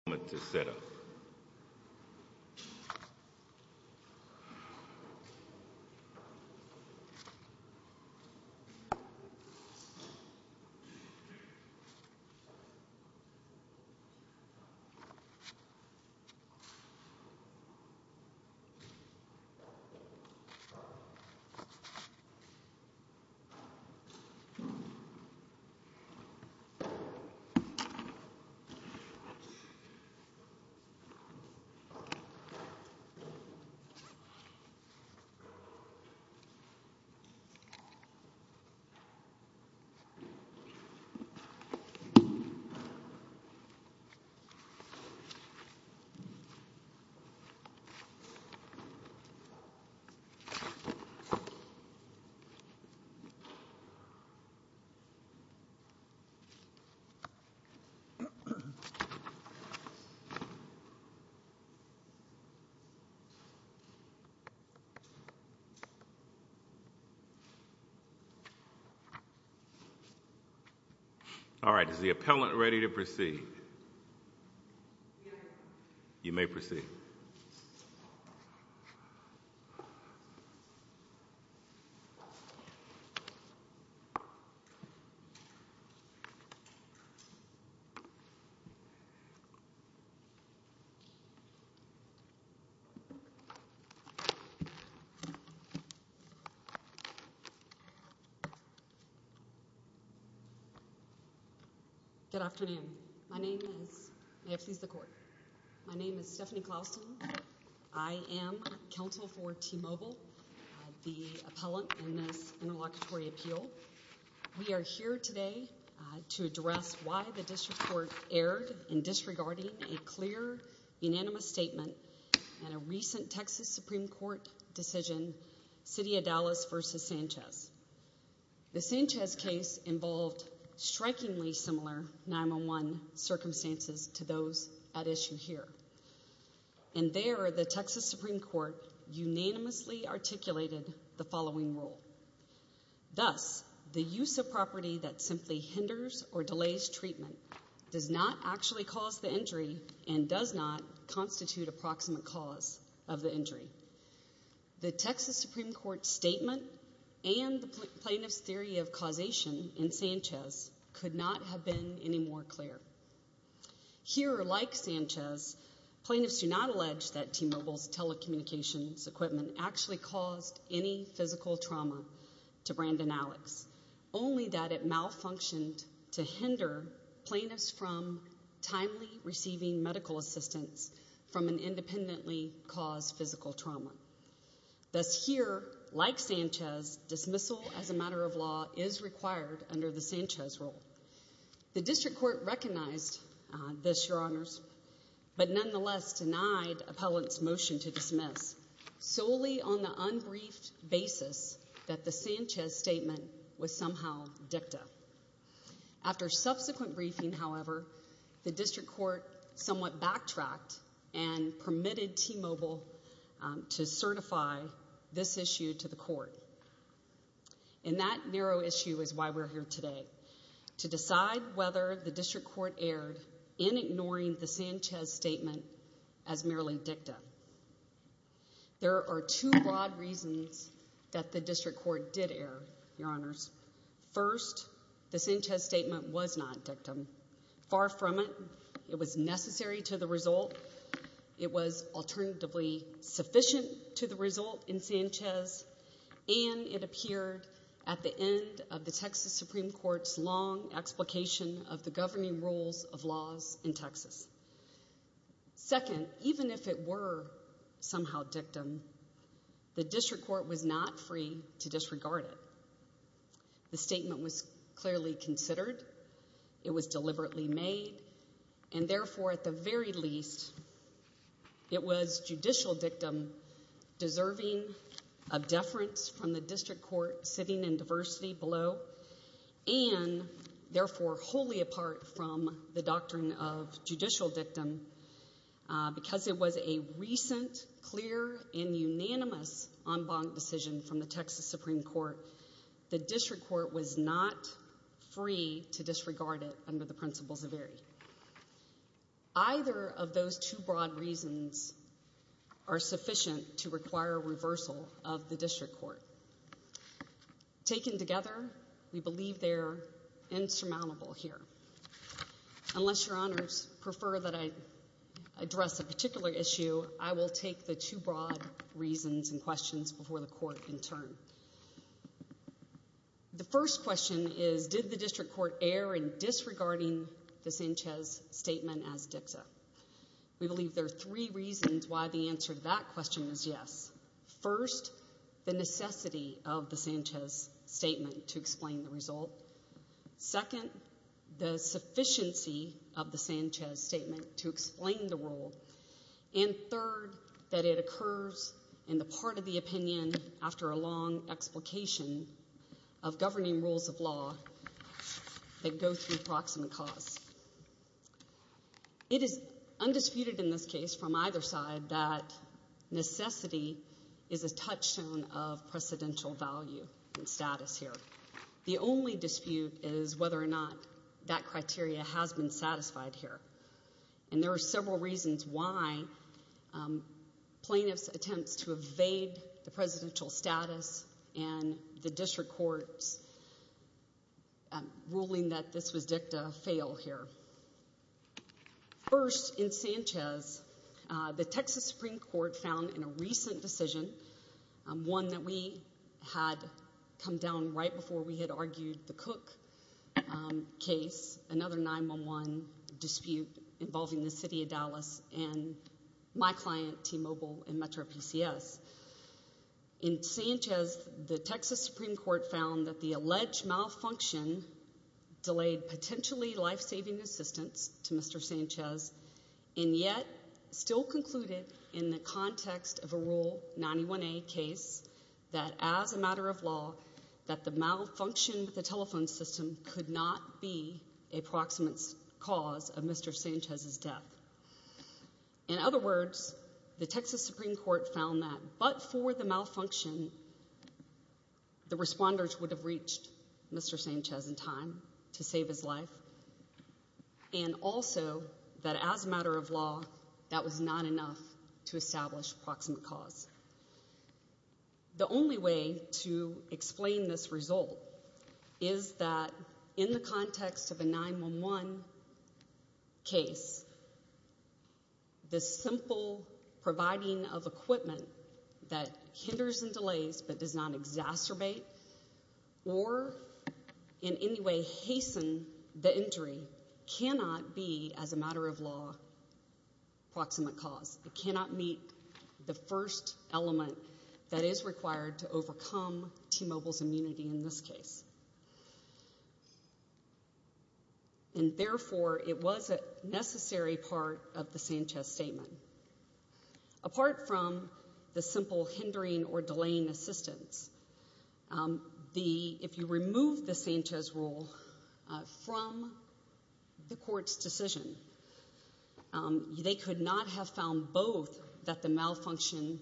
T-Mobile USA, Incorporated T-Mobile USA, Incorporated T-Mobile USA, Incorporated Good afternoon. My name is, may it please the court, my name is Stephanie Clauston. I am counsel for T-Mobile, the appellant in this interlocutory appeal. We are here today to address why the district court erred in disregarding a clear unanimous statement in a recent Texas Supreme Court decision, City of Dallas v. Sanchez. The Sanchez case involved strikingly similar 9-1-1 circumstances to those at issue here. And there, the Texas Supreme Court unanimously articulated the following rule. Thus, the use of property that simply hinders or delays treatment does not actually cause the injury and does not constitute a proximate cause of the injury. The Texas Supreme Court statement and plaintiff's theory of causation in Sanchez could not have been any more clear. Here, like Sanchez, plaintiffs do not allege that T-Mobile's telecommunications equipment actually caused any physical trauma to Brandon Alex, only that it malfunctioned to hinder plaintiffs from timely receiving medical assistance from an independently caused physical trauma. Thus, here, like Sanchez, dismissal as a matter of law is required under the Sanchez rule. The district court recognized this, your honors, but nonetheless denied appellant's motion to dismiss solely on the grounds that the Sanchez statement was somehow dicta. After subsequent briefing, however, the district court somewhat backtracked and permitted T-Mobile to certify this issue to the court. And that narrow issue is why we're here today, to decide whether the district court erred in ignoring the Sanchez statement as merely dicta. There are two broad reasons that the district court did err, your honors. First, the Sanchez statement was not dictum. Far from it. It was necessary to the result. It was alternatively sufficient to the result in Sanchez, and it appeared at the end of the Texas Supreme Court's long explication of the governing rules of laws in Texas. Second, even if it were somehow dictum, the district court was not free to disregard it. The statement was clearly considered. It was deliberately made, and therefore, at the very least, it was judicial dictum deserving of deference from the district court sitting in diversity below, and therefore, wholly apart from the doctrine of judicial dictum, because it was a recent, clear, and unanimous on-bonding decision from the Texas Supreme Court. The district court was not free to disregard it under the principles of Erie. Either of those two broad reasons are sufficient to require a reversal of the district court. Taken together, we believe they're insurmountable here. Unless your honors prefer that I address a particular issue, I will take the two broad reasons and defer the court in turn. The first question is, did the district court err in disregarding the Sanchez statement as DICSA? We believe there are three reasons why the answer to that question is yes. First, the necessity of the Sanchez statement to explain the result. Second, the sufficiency of the Sanchez statement to explain the rule. And third, that it occurs in the part of the opinion, after a long explication of governing rules of law, that go through proximate cause. It is undisputed in this case, from either side, that necessity is a touchstone of precedential value and status here. The only dispute is whether or not that evidence to evade the precedential status and the district court's ruling that this was DICTA fail here. First, in Sanchez, the Texas Supreme Court found in a recent decision, one that we had come down right before we had argued the Cook case, another 9-1-1 dispute involving the City of Dallas and my client, T-Mobile and Metro PCS. In Sanchez, the Texas Supreme Court found that the alleged malfunction delayed potentially life-saving assistance to Mr. Sanchez, and yet, still concluded in the context of a Rule 91A case, that as a matter of law, that the malfunction of the telephone system could not be a proximate cause of Mr. Sanchez's death. In other words, the Texas Supreme Court found that, but for the malfunction, the responders would have reached Mr. Sanchez in time to save his life, and also, that as a matter of law, that was not enough to establish proximate cause. The only way to explain this result is that in the context of a 9-1-1 case, the simple providing of equipment that hinders and delays, but does not exacerbate or in any way hasten the injury, cannot be, as a matter of law, proximate cause. It cannot meet the first element that is required to overcome T-Mobile's immunity in this case. And therefore, it was a necessary part of the Sanchez statement. Apart from the simple hindering or delaying assistance, if you remove the Sanchez rule from the court's decision, they could not have found both that the malfunction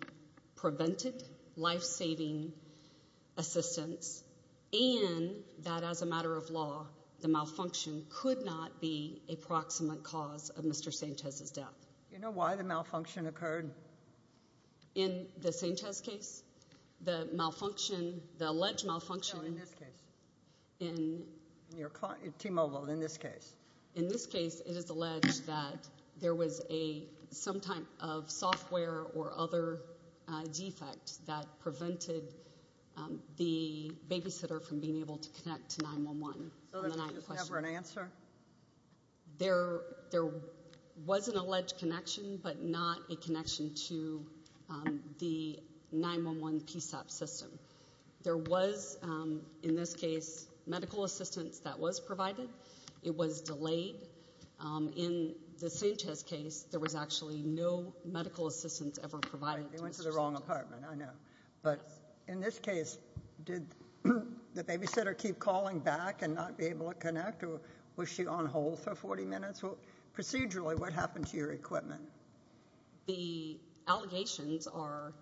prevented life-saving assistance, and that as a matter of law, the malfunction could not be a proximate cause of Mr. Sanchez's death. You know why the malfunction occurred? In the Sanchez case? The malfunction, the alleged malfunction in this case, in T-Mobile, in this case? In this case, it is alleged that there was some type of software or other defect that prevented the babysitter from being able to connect to 9-1-1. So that's just never an answer? There was an alleged connection, but not a connection to the 9-1-1 PSAP system. There was, in this case, medical assistance that was provided. It was delayed. In the Sanchez case, there was actually no medical assistance ever provided to Mr. Sanchez. Right, they went to the wrong apartment, I know. But in this case, did the babysitter keep calling back and not be able to connect, or was she on hold for 40 minutes? Procedurally, what happened to your equipment? The allegations are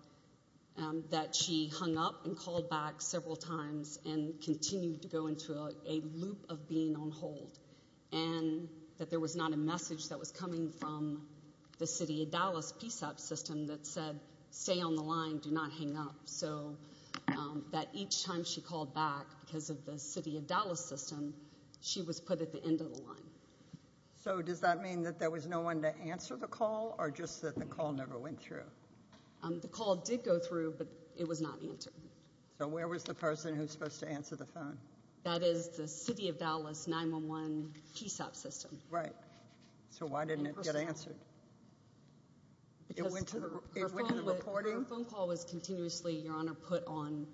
that she hung up and called back several times and continued to go into a loop of being on hold, and that there was not a message that was coming from the City of Dallas PSAP system that said, stay on the line, do not hang up. So that each time she called back, because of the City of Dallas system, she was put at the end of the line. So does that mean that there was no one to answer the call, or just that the call never went through? The call did go through, but it was not answered. So where was the person who was supposed to answer the phone? That is the City of Dallas 9-1-1 PSAP system. Right. So why didn't it get answered? It went to the reporting? Her phone call was continuously, Your Honor, put on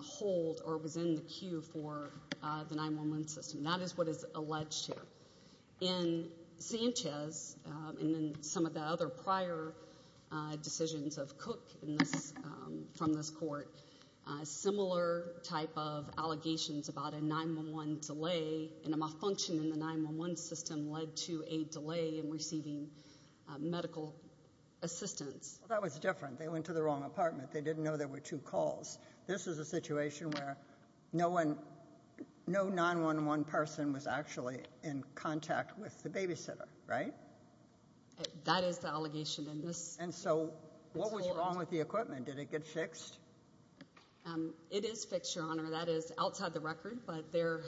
hold, or was in the queue for the 9-1-1 system. That is what is alleged here. In Sanchez, and in some of the other prior decisions of Cook, from this court, similar type of allegations about a 9-1-1 delay and a malfunction in the 9-1-1 system led to a delay in receiving medical assistance. That was different. They went to the wrong apartment. They didn't know there were two calls. This is a situation where no 9-1-1 person was actually in contact with the babysitter, right? That is the allegation in this court. And so what was wrong with the equipment? Did it get fixed? It is fixed, Your Honor. That is outside the record, but there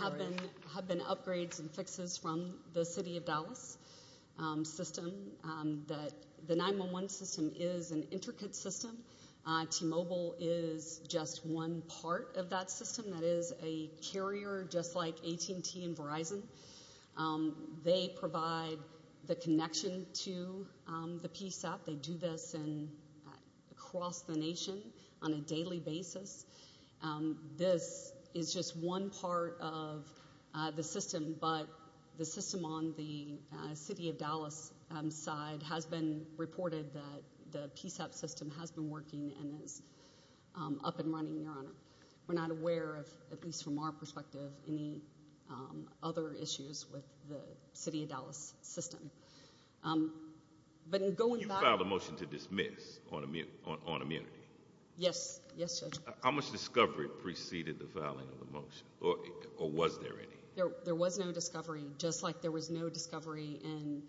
have been upgrades and fixes from the City of Dallas system. The 9-1-1 system is an intricate system to mobile and is just one part of that system that is a carrier just like AT&T and Verizon. They provide the connection to the PSAP. They do this across the nation on a daily basis. This is just one part of the system, but the system on the City of Dallas side has been reported that the PSAP system has been working and is up and running, Your Honor. We're not aware of, at least from our perspective, any other issues with the City of Dallas system. You filed a motion to dismiss on immunity? Yes, Judge. How much discovery preceded the filing of the motion, or was there any? There was no discovery, just like there was no discovery in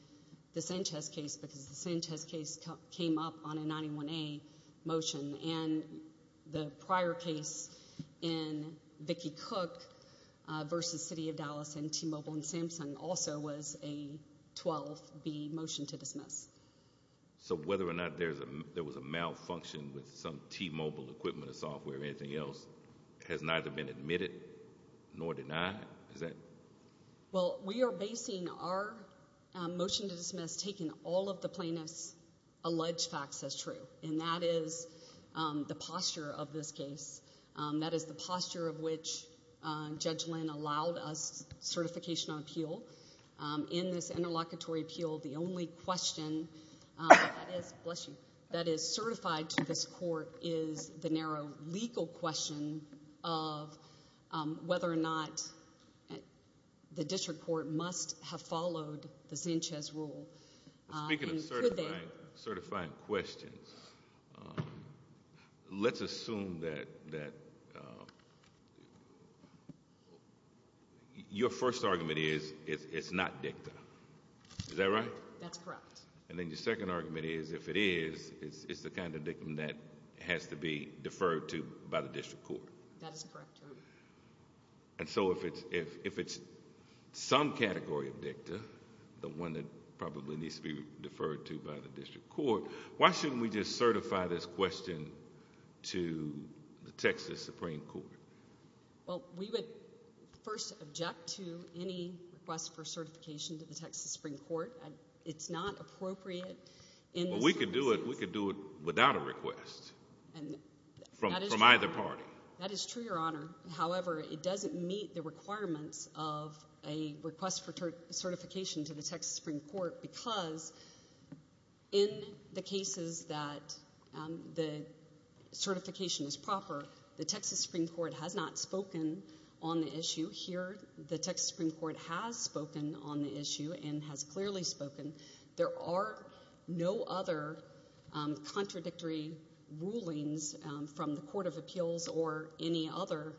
the Sanchez case because the motion came up on a 9-1-A motion. The prior case in Vicki Cook versus City of Dallas and T-Mobile and Samsung also was a 12-B motion to dismiss. Whether or not there was a malfunction with some T-Mobile equipment or software or anything else has neither been admitted nor denied? Well, we are basing our motion to dismiss taking all of the plaintiff's alleged facts as true, and that is the posture of this case. That is the posture of which Judge Lynn allowed us certification on appeal. In this interlocutory appeal, the only question that is certified to this court is the narrow legal question of whether or not the district court must have followed the Sanchez rule. Speaking of certifying questions, let's assume that your first argument is it's not dicta. Is that right? That's correct. Then your second argument is if it is, it's the kind of dictum that has to be deferred to by the district court. That is correct, Your Honor. If it's some category of dicta, the one that probably needs to be deferred to by the district court, why shouldn't we just certify this question to the Texas Supreme Court? Well, we would first object to any request for certification to the Texas Supreme Court. It's not appropriate. Well, we could do it without a request from either party. That is true, Your Honor. However, it doesn't meet the requirements of a request for certification to the Texas Supreme Court because in the cases that the certification is proper, the Texas Supreme Court has not spoken on the issue. Here, the Texas Supreme Court has spoken on the issue and has clearly spoken. There are no other contradictory rulings from the Court of Appeals or any other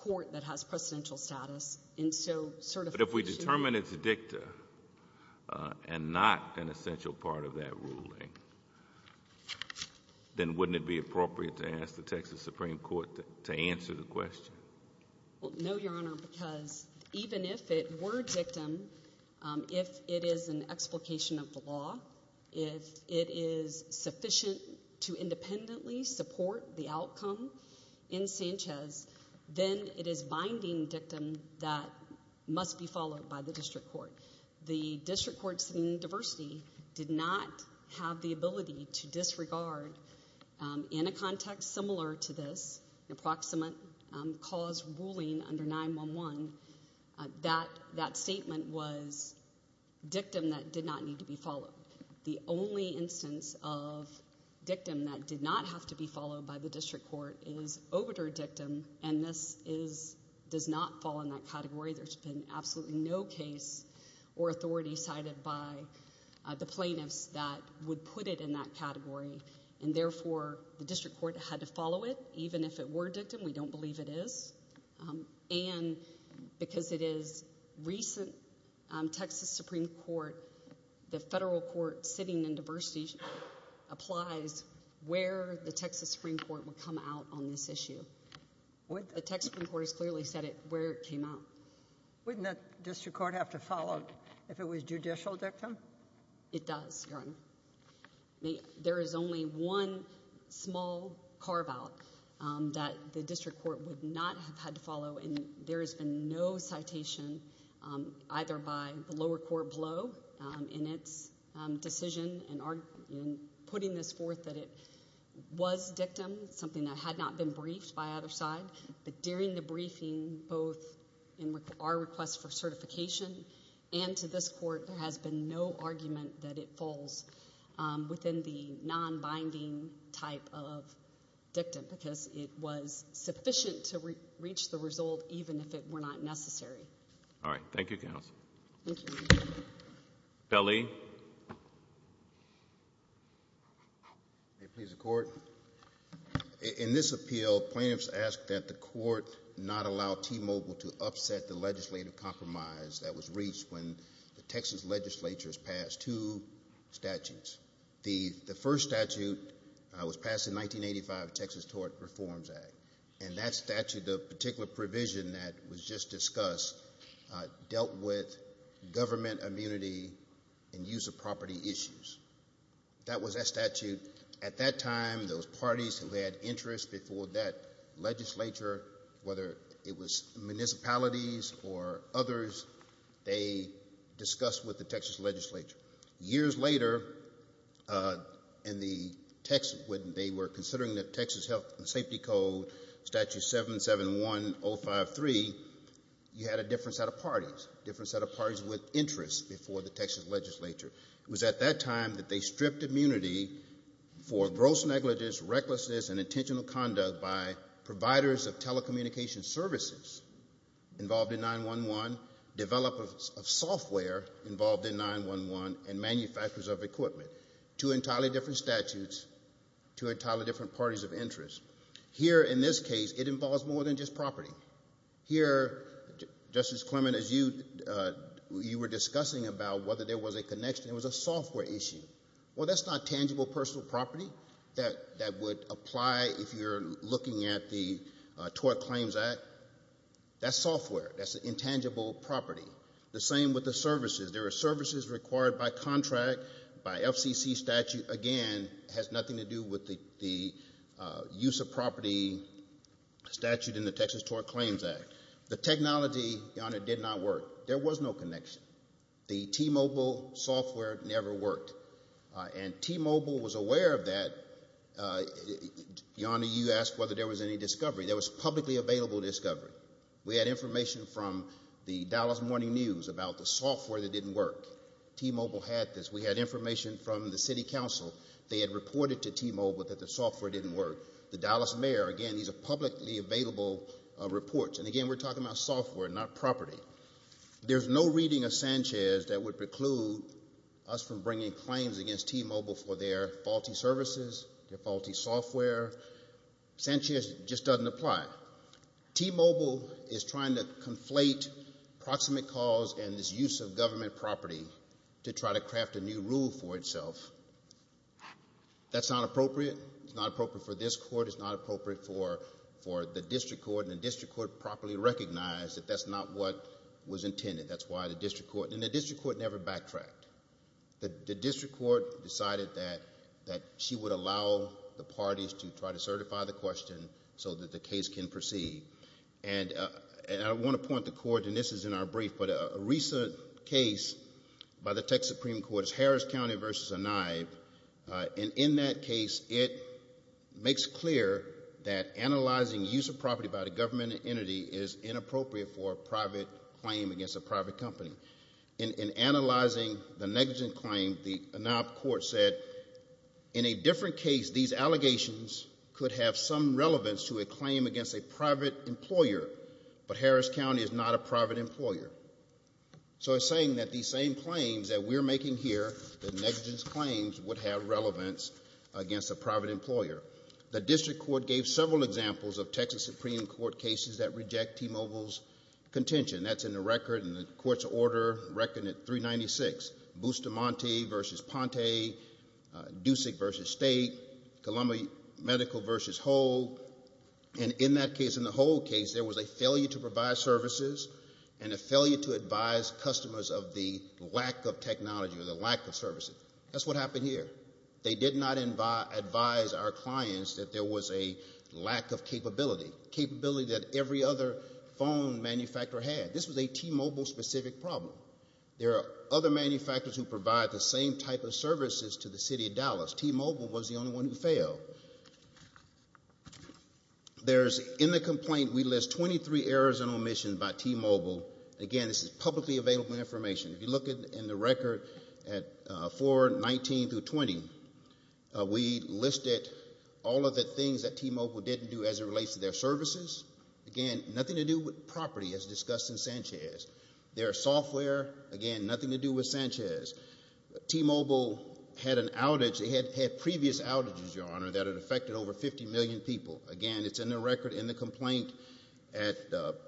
court that has presidential status. But if we determine it's dicta and not an essential part of that ruling, then wouldn't it be appropriate to ask the Texas Supreme Court to answer the question? No, Your Honor, because even if it were dictum, if it is an explication of the law, if it is sufficient to independently support the outcome in Sanchez, then it is binding dictum that must be followed by the district court. The district courts in diversity did not have the ability to disregard, in a context similar to this, an approximate cause ruling under 9-1-1, that statement was dictum that did not need to be followed. The only instance of dictum that did not have to be followed by the district court is overture dictum, and this does not fall in that category. There's been absolutely no case or authority cited by the plaintiffs that would put it in that category, and therefore the district court had to follow it, even if it were dictum, we don't believe it is. And because it is recent, Texas Supreme Court, the federal court sitting in diversity applies where the Texas Supreme Court would come out on this issue. The Texas Supreme Court has clearly said where it came out. Wouldn't the district court have to follow if it was judicial dictum? It does, Your Honor. There is only one small carve-out that the district court would not have had to follow, and there has been no citation either by the lower court below in its decision in putting this forth that it was dictum, something that had not been briefed by either side. But during the briefing, both in our request for certification and to this court, there has been no argument that it falls within the non-binding type of dictum, because it was sufficient to reach the result, even if it were not necessary. All right. Thank you, counsel. Thank you. Belli. May it please the court. In this appeal, plaintiffs ask that the court not allow T-Mobile to upset the legislative compromise that was reached when the Texas legislature has passed two statutes. The first statute was passed in 1985, Texas Tort Reforms Act, and that statute, the particular provision that was just discussed, dealt with government immunity and use of property issues. That was that statute. At that time, those parties who had interest before that legislature, whether it was municipalities or others, they discussed with the Texas legislature. Years later, when they were considering the Texas Health and Welfare Act of 1971-053, you had a different set of parties, different set of parties with interest before the Texas legislature. It was at that time that they stripped immunity for gross negligence, recklessness, and intentional conduct by providers of telecommunications services involved in 9-1-1, developers of software involved in 9-1-1, and manufacturers of equipment. Two entirely different statutes, two entirely different parties of interest. Here, in this case, it involves more than just property. Here, Justice Clement, as you were discussing about whether there was a connection, there was a software issue. Well, that's not tangible personal property that would apply if you're looking at the Tort Claims Act. That's software. That's intangible property. The same with the services. There has nothing to do with the use of property statute in the Texas Tort Claims Act. The technology, Your Honor, did not work. There was no connection. The T-Mobile software never worked. And T-Mobile was aware of that. Your Honor, you asked whether there was any discovery. There was publicly available discovery. We had information from the Dallas Morning News about the software that didn't work. T-Mobile had this. We had information from the city council. They had reported to T-Mobile that the software didn't work. The Dallas mayor, again, these are publicly available reports. And, again, we're talking about software, not property. There's no reading of Sanchez that would preclude us from bringing claims against T-Mobile for their faulty services, their faulty software. Sanchez just doesn't apply. T-Mobile is trying to conflate proximate cause and this use of government property to try to craft a new rule for itself. That's not appropriate. It's not appropriate for this court. It's not appropriate for the district court. And the district court properly recognized that that's not what was intended. That's why the district court, and the district court never backtracked. The district court decided that she would allow the parties to try to certify the question so that the case can proceed. And I want to point the court, and this is in our brief, but a recent case by the Texas Supreme Court is Harris County versus Anaib. And in that case, it makes clear that analyzing use of property by the government entity is inappropriate for a private claim against a private company. In analyzing the negligent claim, the Anaib court said, in a different case, these allegations could have some relevance to a claim against a private employer, but Harris County is not a private employer. So it's saying that these same claims that we're making here, the negligence claims, would have relevance against a private employer. The district court gave several examples of Texas Supreme Court cases that reject T-Mobile's contention. That's in the record in the court's order, record 396, Bustamante versus Ponte, Dusick versus State, Columbia Medical versus Hogue. And in that case, in the complaint, we list 23 errors and omissions. The first error is a failure to provide services and a failure to advise customers of the lack of technology or the lack of services. That's what happened here. They did not advise our clients that there was a lack of capability, capability that every other phone manufacturer had. This was a T-Mobile-specific problem. There are other manufacturers who provide the same type of information by T-Mobile. Again, this is publicly available information. If you look in the record at 419 through 20, we listed all of the things that T-Mobile didn't do as it relates to their services. Again, nothing to do with property, as discussed in Sanchez. Their software, again, nothing to do with Sanchez. T-Mobile had an outage. They had previous outages, Your Honor, that had affected over 50 million people. Again, it's in the record in the complaint at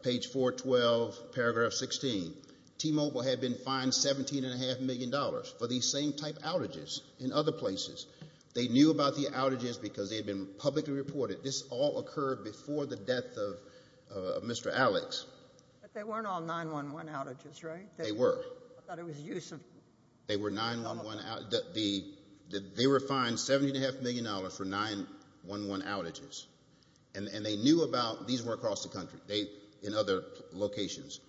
page 412, paragraph 16. T-Mobile had been fined $17.5 million for these same type outages in other places. They knew about the outages because they had been publicly reported. This all occurred before the death of Mr. Alex. But they weren't all 911 outages, right? They were. I thought it was use of... They were fined $17.5 million for 911 outages. And they knew about, these were across the country, in other locations.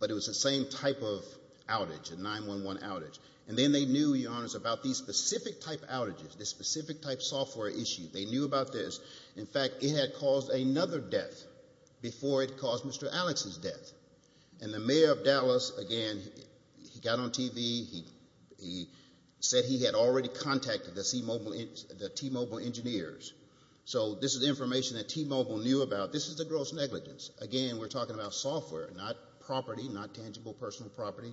But it was the same type of outage, a 911 outage. And then they knew, Your Honor, about these specific type outages, the specific type software issues. They knew about this. In fact, it had caused another death before it caused Mr. Alex's death. And the mayor of Dallas, again, he got on TV. He said he had already contacted the T-Mobile engineers. So this is information that T-Mobile knew about. This is the gross negligence. Again, we're talking about software, not property, not tangible personal property.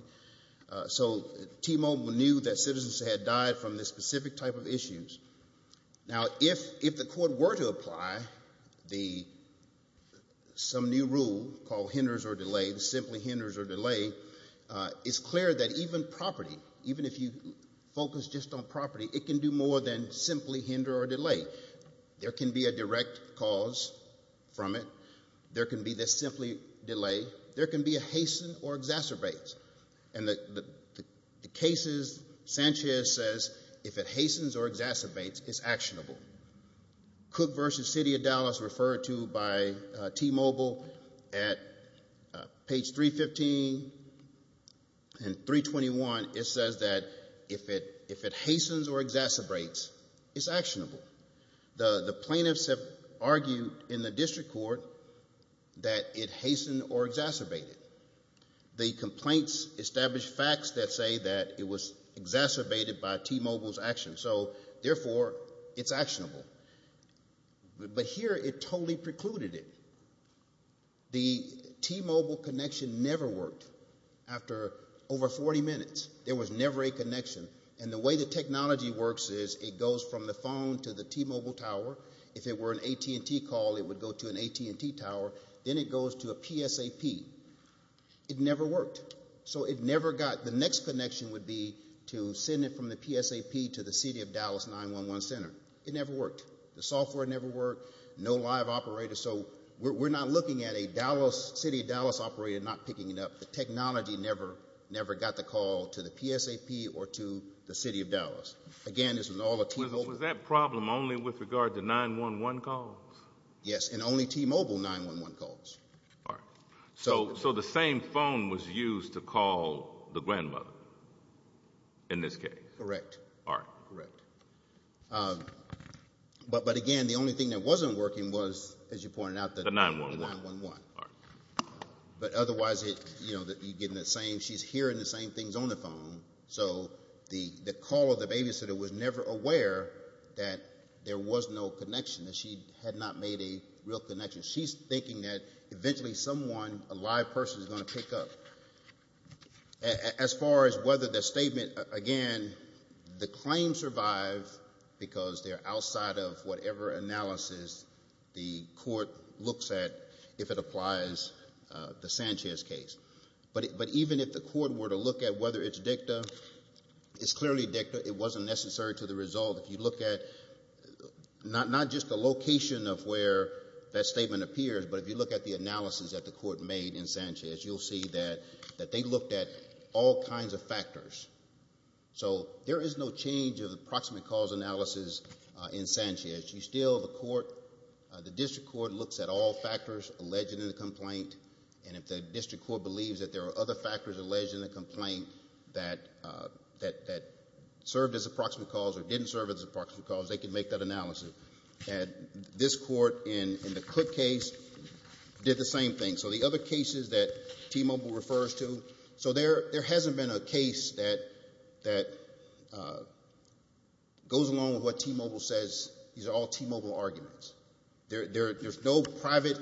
So T-Mobile knew that citizens had died from this specific type of issues. Now, if the court were to apply some new rule called hinders or delay, simply hinders or delay, it's clear that even property, even if you focus just on property, it can do more than simply hinder or delay. There can be a direct cause from it. There can be the simply delay. There can be a hasten or exacerbates. And the cases, Sanchez says, if it hastens or exacerbates, it's actionable. Cook v. City of Dallas referred to by T-Mobile at page 315 and 321, it says that if it hastens or exacerbates, it's actionable. The plaintiffs have argued in the district court that it hastened or exacerbated. The complaints established facts that say that it was exacerbated by T-Mobile's actions. So therefore, it's actionable. But here it totally precluded it. The T-Mobile connection never worked. After over 40 minutes, there was never a connection. And the way the technology works is it goes from the phone to the T-Mobile tower. If it were an AT&T call, it would go to an AT&T tower. Then it never got, the next connection would be to send it from the PSAP to the City of Dallas 911 center. It never worked. The software never worked. No live operator. So we're not looking at a Dallas, City of Dallas operator not picking it up. The technology never got the call to the PSAP or to the City of Dallas. Again, this was all a T-Mobile. Was that problem only with regard to 911 calls? Yes, and only T-Mobile 911 calls. All right. So the same phone was used to call the grandmother in this case? Correct. All right. Correct. But again, the only thing that wasn't working was, as you pointed out, the 911. All right. But otherwise, it, you know, you're getting the same, she's hearing the same things on the phone. So the call of the babysitter was never aware that there was no connection, that she had not made a real connection. She's thinking that eventually someone, a live person is going to pick up. As far as whether the statement, again, the claims survive because they're outside of whatever analysis the court looks at if it applies the Sanchez case. But even if the court were to look at whether it's dicta, it's clearly dicta. It wasn't necessary to the result. If you look at not just the location of where that statement appears, but if you look at the analysis that the court made in Sanchez, you'll see that they looked at all kinds of factors. So there is no change of the approximate cause analysis in Sanchez. You still, the court, the district court looks at all factors alleged in the complaint. And if the district court believes that there are other factors alleged in the complaint that served as approximate cause or didn't serve as approximate cause, they can make that analysis. And this court in the Cook case did the same thing. So the other cases that T-Mobile refers to, so there hasn't been a case that goes along with what T-Mobile says. These are all T-Mobile arguments. There's no private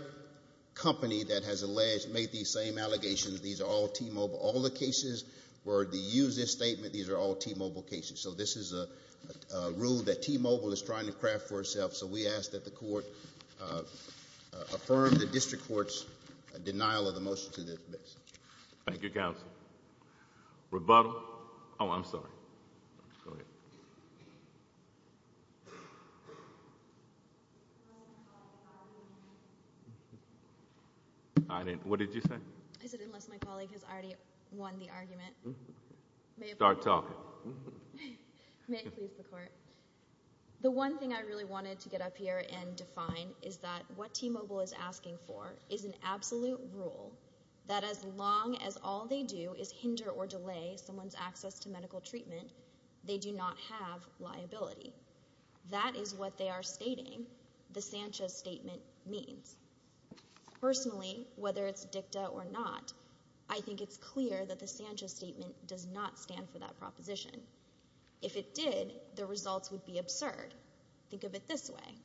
company that has alleged, made these same allegations. These are all T-Mobile. All the cases where they use this statement, these are all T-Mobile cases. So this is a rule that T-Mobile is trying to craft for itself. So we ask that the court affirm the district court's denial of the motion to dismiss. Thank you, counsel. Rebuttal? Oh, I'm sorry. Go ahead. I didn't, what did you say? I said unless my colleague has already won the argument. Start talking. May it please the court. The one thing I really wanted to get up here and define is that what T-Mobile is asking for is an absolute rule that as long as all they do is hinder or delay someone's access to medical treatment, they do not have liability. That is what they are stating the Sanchez statement means. Personally, whether it's dicta or not, I think it's clear that the Sanchez statement does not stand for that proposition. If it did, the results would be absurd. Think of it this way.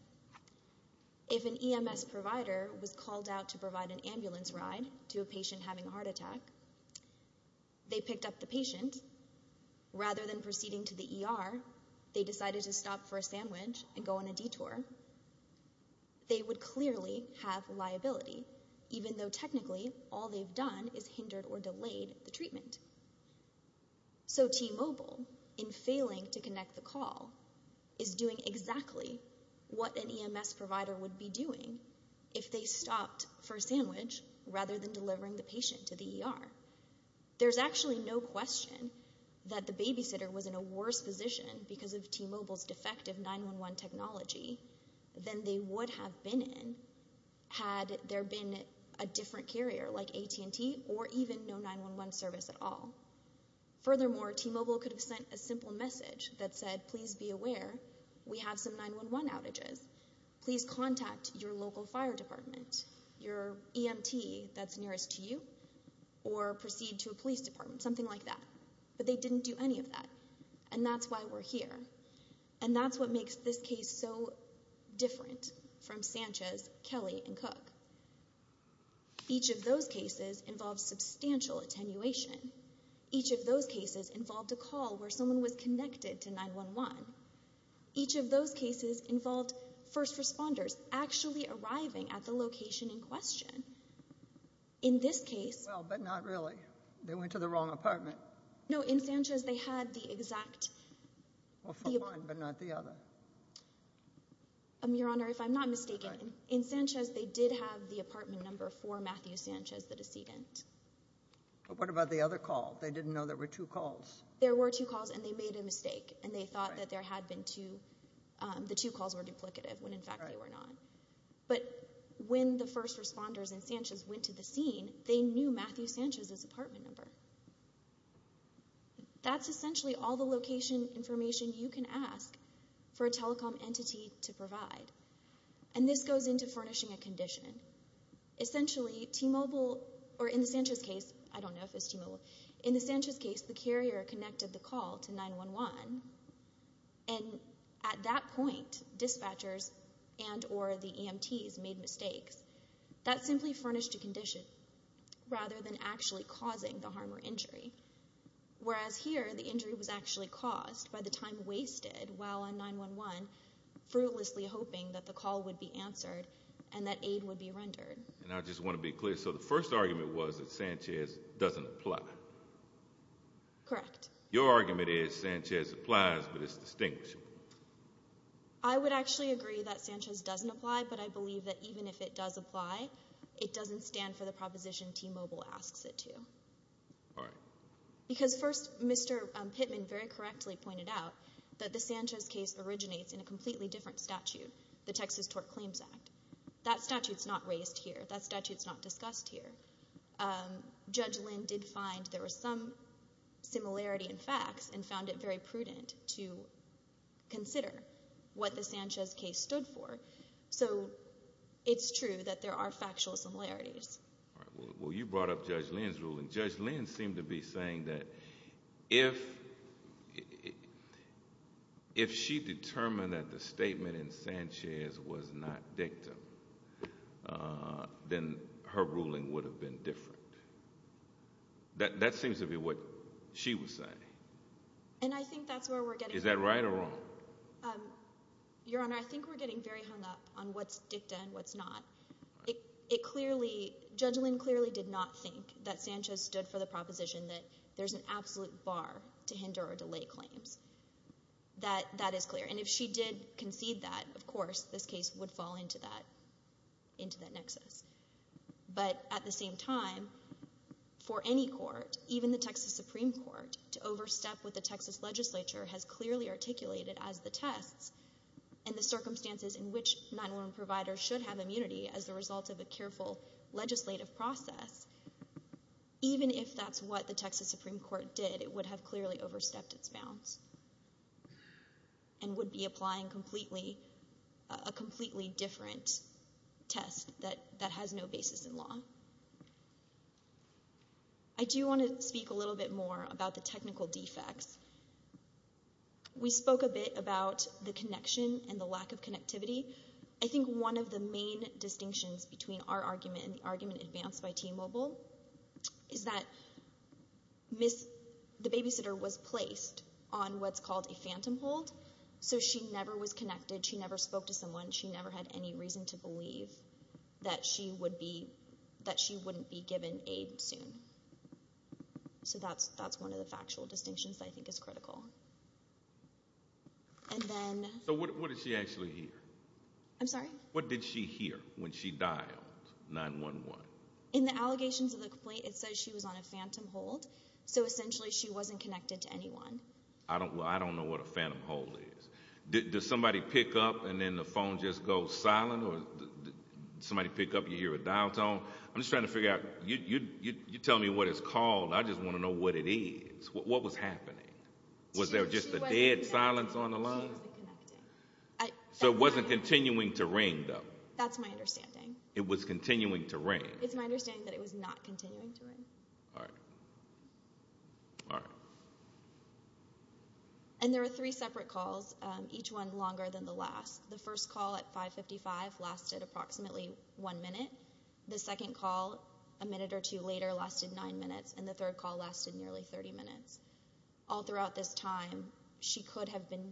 If an EMS provider was called out to provide an ambulance ride to a patient having a heart attack, they decided to stop for a sandwich and go on a detour, they would clearly have liability even though technically all they've done is hindered or delayed the treatment. So T-Mobile in failing to connect the call is doing exactly what an EMS provider would be doing if they stopped for a sandwich rather than delivering the patient to the ER. There's actually no question that the babysitter was in a worse position because of T-Mobile's defective 911 technology than they would have been in had there been a different carrier like AT&T or even no 911 service at all. Furthermore, T-Mobile could have sent a simple message that said, please be aware, we have some 911 outages. Please contact your local fire department, your EMT that's nearest to you, or proceed to a police department, something like that. But they didn't do any of that. And that's why we're here. And that's what makes this case so different from Sanchez, Kelly, and Cook. Each of those cases involved substantial attenuation. Each of those cases involved a call where someone was connected to 911. Each of those cases involved first responders actually arriving at the location in question. In this case... Well, but not really. They went to the wrong apartment. No, in Sanchez they had the exact... Well, for one, but not the other. Your Honor, if I'm not mistaken, in Sanchez they did have the apartment number for Matthew Sanchez, the decedent. But what about the other call? They didn't know there were two calls. There were two calls, and they made a mistake. And they thought that there had been two... The two calls were duplicative, when in fact they were not. But when the first responders in Sanchez went to the scene, they knew Matthew Sanchez's apartment number. That's essentially all the location information you can ask for a telecom entity to provide. And this goes into furnishing a condition. Essentially, T-Mobile, or in the Sanchez case, I don't know if you've heard this, but T-Mobile was the call to 911. And at that point, dispatchers and or the EMTs made mistakes. That simply furnished a condition, rather than actually causing the harm or injury. Whereas here, the injury was actually caused by the time wasted while on 911, fruitlessly hoping that the call would be answered and that aid would be rendered. And I just want to be clear, so the first argument was that Sanchez doesn't apply. Correct. Your argument is Sanchez applies, but it's distinguishable. I would actually agree that Sanchez doesn't apply, but I believe that even if it does apply, it doesn't stand for the proposition T-Mobile asks it to. All right. Because first, Mr. Pittman very correctly pointed out that the Sanchez case originates in a completely different statute, the Texas Tort Claims Act. That statute's not raised here. That statute's not discussed here. Judge Lynn did find there was some similarity in facts and found it very prudent to consider what the Sanchez case stood for. So it's true that there are factual similarities. All right. Well, you brought up Judge Lynn's ruling. Judge Lynn seemed to be saying that if she determined that the statement in Sanchez was not dicta, then her ruling would have been different. That seems to be what she was saying. And I think that's where we're getting— Is that right or wrong? Your Honor, I think we're getting very hung up on what's dicta and what's not. Judge Lynn clearly did not think that Sanchez stood for the proposition that there's an absolute bar to hinder or delay claims. That is clear. And if she did concede that, of course, this case would fall into that nexus. But at the same time, for any court, even the Texas Supreme Court, to overstep what the Texas legislature has clearly articulated as the tests and the circumstances in which a 9-1-1 provider should have immunity as the result of a careful legislative process, even if that's what the Texas Supreme Court did, it would have clearly overstepped its bounds and would be applying a completely different test that has no basis in law. I do want to speak a little bit more about the technical defects. We spoke a bit about the connection and the lack of connectivity. I think one of the main distinctions between our argument and the argument advanced by T-Mobile is that the babysitter was placed on what's called a phantom hold, so she never was connected, she never spoke to someone, she never had any reason to believe that she wouldn't be given aid soon. So that's one of the factual distinctions I think is critical. So what did she actually hear? I'm sorry? What did she hear when she dialed 9-1-1? In the allegations of the complaint, it says she was on a phantom hold, so essentially she wasn't connected to anyone. I don't know what a phantom hold is. Does somebody pick up and then the phone just goes silent or somebody pick up, you hear a dial tone? I'm just trying to figure out, you're Was there just a dead silence on the line? She wasn't connecting. So it wasn't continuing to ring though? That's my understanding. It was continuing to ring. It's my understanding that it was not continuing to ring. All right. All right. And there were three separate calls, each one longer than the last. The first call at 555 lasted approximately one minute, the second call a minute or two later lasted nine minutes, and the third call lasted nearly 30 minutes. All throughout this time, she could have been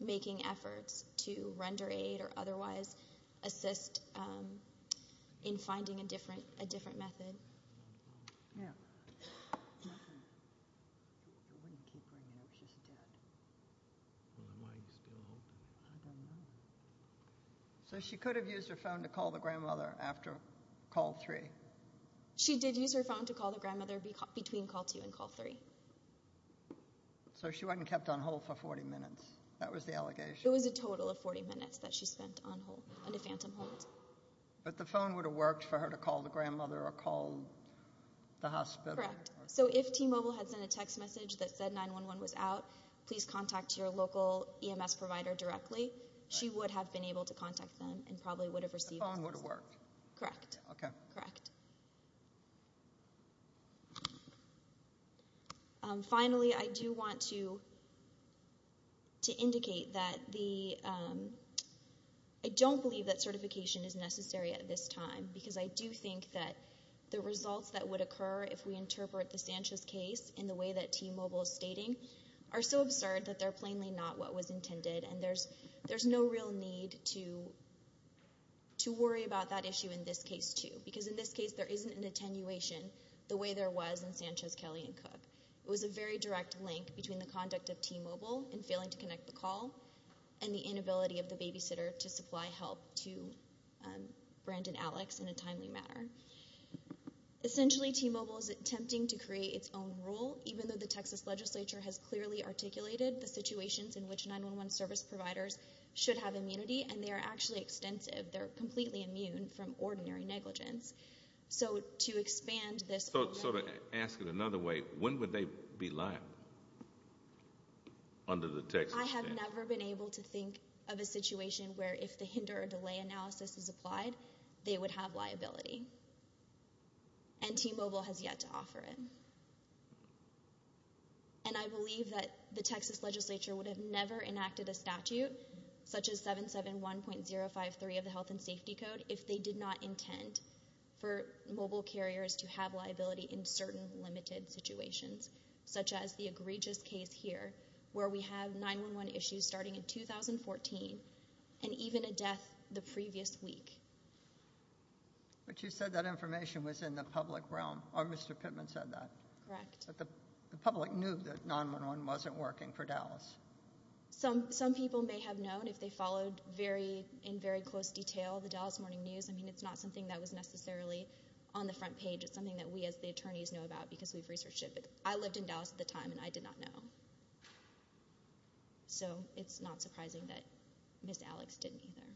making efforts to render aid or otherwise assist in finding a different method. Yeah. So she could have used her phone to call the grandmother after call three? She did use her phone to call the grandmother between call two and call three. So she wasn't kept on hold for 40 minutes? That was the allegation? It was a total of 40 minutes that she spent on hold, under phantom hold. But the phone would have worked for her to call the grandmother or call the hospital? Correct. So if T-Mobile had sent a text message that said 911 was out, please contact your local EMS provider directly, she would have been able to contact them and probably would have received a response. The phone would have worked? Correct. Okay. Correct. Finally, I do want to indicate that I don't believe that certification is necessary at this time, because I do think that the results that would occur if we interpret the Sanchez case in the way that T-Mobile is stating are so absurd that they're plainly not what was Because in this case, there isn't an attenuation the way there was in Sanchez, Kelley, and Cook. It was a very direct link between the conduct of T-Mobile in failing to connect the call and the inability of the babysitter to supply help to Brandon Alex in a timely manner. Essentially, T-Mobile is attempting to create its own rule, even though the Texas legislature has clearly articulated the situations in which 911 service providers should have immunity and they're actually extensive. They're completely immune from ordinary negligence. So, to expand this... So, to ask it another way, when would they be liable under the Texas statute? I have never been able to think of a situation where if the hinder or delay analysis is applied, they would have liability, and T-Mobile has yet to offer it. And I believe that the Texas legislature would have never enacted a statute, such as 771.053 of the Health and Safety Code, if they did not intend for mobile carriers to have liability in certain limited situations, such as the egregious case here, where we have 911 issues starting in 2014, and even a death the previous week. But you said that information was in the public realm, or Mr. Pittman said that? Correct. But the public knew that 911 wasn't working for Dallas? Some people may have known if they followed in very close detail the Dallas Morning News. I mean, it's not something that was necessarily on the front page. It's something that we, as the attorneys, know about because we've researched it. But I lived in Dallas at the time, and I did not know. So, it's not surprising that Ms. Alex didn't either.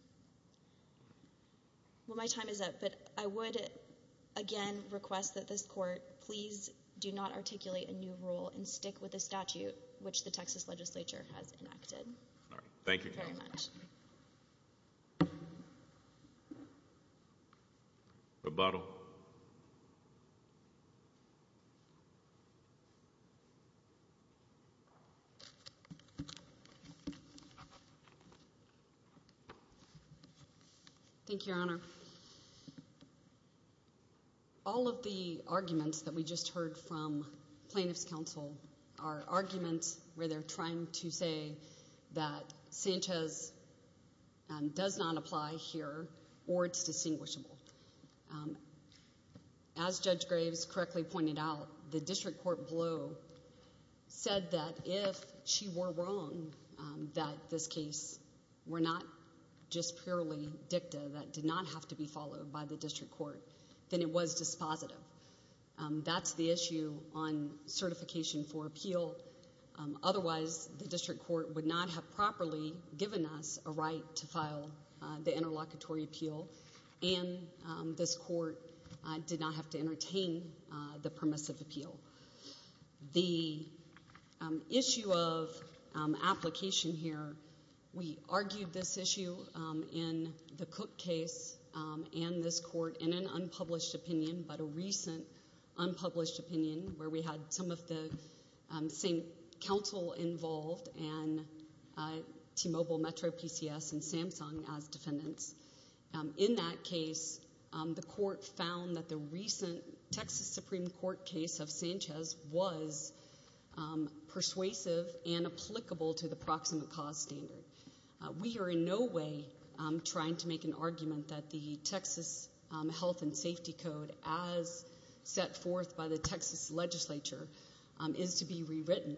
Well, my time is up, but I would, again, request that this court please do not articulate a new rule and stick with the statute which the Texas legislature has enacted. All right. Thank you. Very much. Rebuttal. Thank you. Thank you, Your Honor. All of the arguments that we just heard from plaintiff's counsel are arguments where they're trying to say that Sanchez does not apply here or it's distinguishable. As Judge Graves correctly pointed out, the district court below said that if she were wrong, that this case were not just purely dicta that did not have to be followed by the district court, then it was dispositive. That's the issue on certification for appeal. Otherwise, the district court would not have properly given us a right to file the interlocutory appeal. And this court did not have to entertain the permissive appeal. The issue of application here, we argued this issue in the Cook case and this court in an unpublished opinion, but a recent unpublished opinion where we had some of the same counsel involved and T-Mobile, Metro PCS, and Samsung as defendants. In that case, the court found that the recent Texas Supreme Court case of Sanchez was persuasive and applicable to the proximate cause standard. We are in no way trying to make an argument that the Texas Health and Safety Code, as set forth by the Texas legislature, is to be rewritten.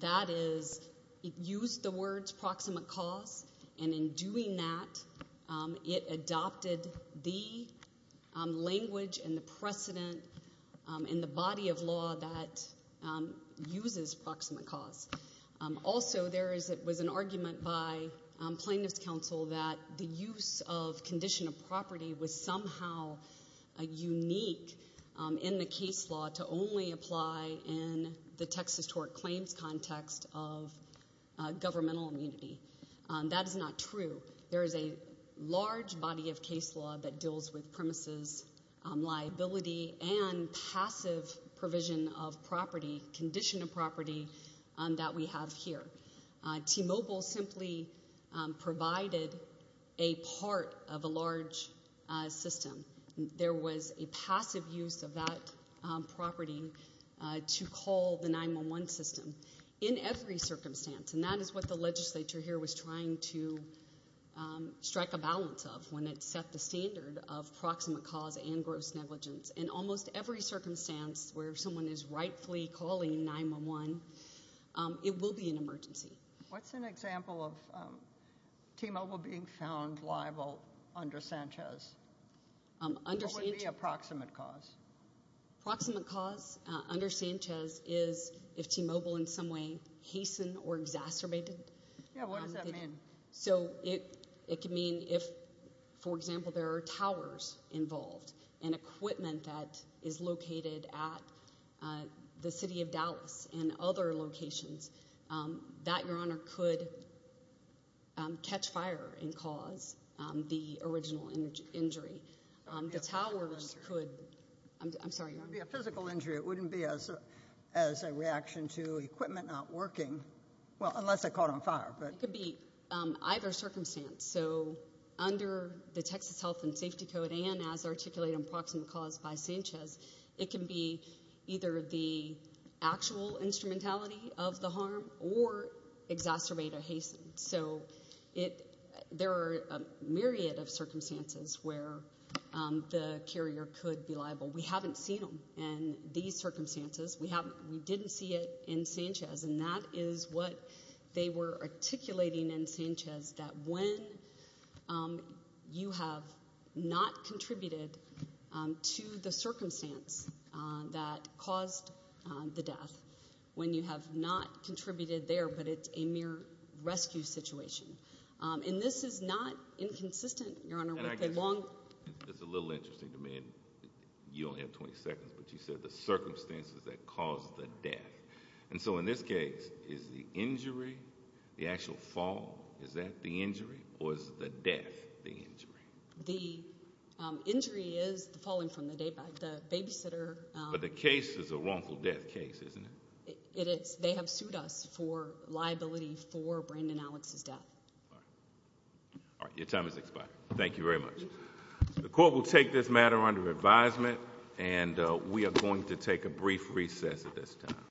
That is, it used the words proximate cause, and in doing that, it adopted the language and the precedent and the body of law that uses proximate cause. Also, there was an argument by plaintiff's counsel that the use of condition of property was somehow unique in the case law to only apply in the Texas tort claims context of governmental immunity. That is not true. There is a large body of case law that deals with premises liability and passive provision of property, condition of property that we have here. T-Mobile simply provided a part of a large system. There was a passive use of that property to call the 911 system in every circumstance, and that is what the legislature here was trying to strike a balance of when it set the standard of proximate cause and gross negligence. In almost every circumstance where someone is rightfully calling 911, it will be an emergency. What is an example of T-Mobile being found liable under Sanchez? What would be a proximate cause? Proximate cause under Sanchez is if T-Mobile in some way hastened or exacerbated. What does that mean? It could mean if, for example, there are towers involved and equipment that is located at the city of Dallas and other locations, that, Your Honor, could catch fire and cause the original injury. The towers could be a physical injury. It wouldn't be as a reaction to equipment not working. Well, unless they caught on fire. It could be either circumstance. So under the Texas Health and Safety Code and as articulated in proximate cause by Sanchez, it can be either the actual instrumentality of the harm or exacerbate or hasten. So there are a myriad of circumstances where the carrier could be liable. We haven't seen them in these circumstances. We didn't see it in Sanchez, and that is what they were articulating in Sanchez, that when you have not contributed to the circumstance that caused the death, when you have not contributed there but it's a mere rescue situation. And this is not inconsistent, Your Honor. It's a little interesting to me. You only have 20 seconds, but you said the circumstances that caused the death. And so in this case, is the injury the actual fall? Is that the injury or is the death the injury? The injury is the falling from the day bed. The babysitter. But the case is a wrongful death case, isn't it? It is. They have sued us for liability for Brandon Alex's death. All right. All right. Your time has expired. Thank you very much. The court will take this matter under advisement, and we are going to take a brief recess at this time.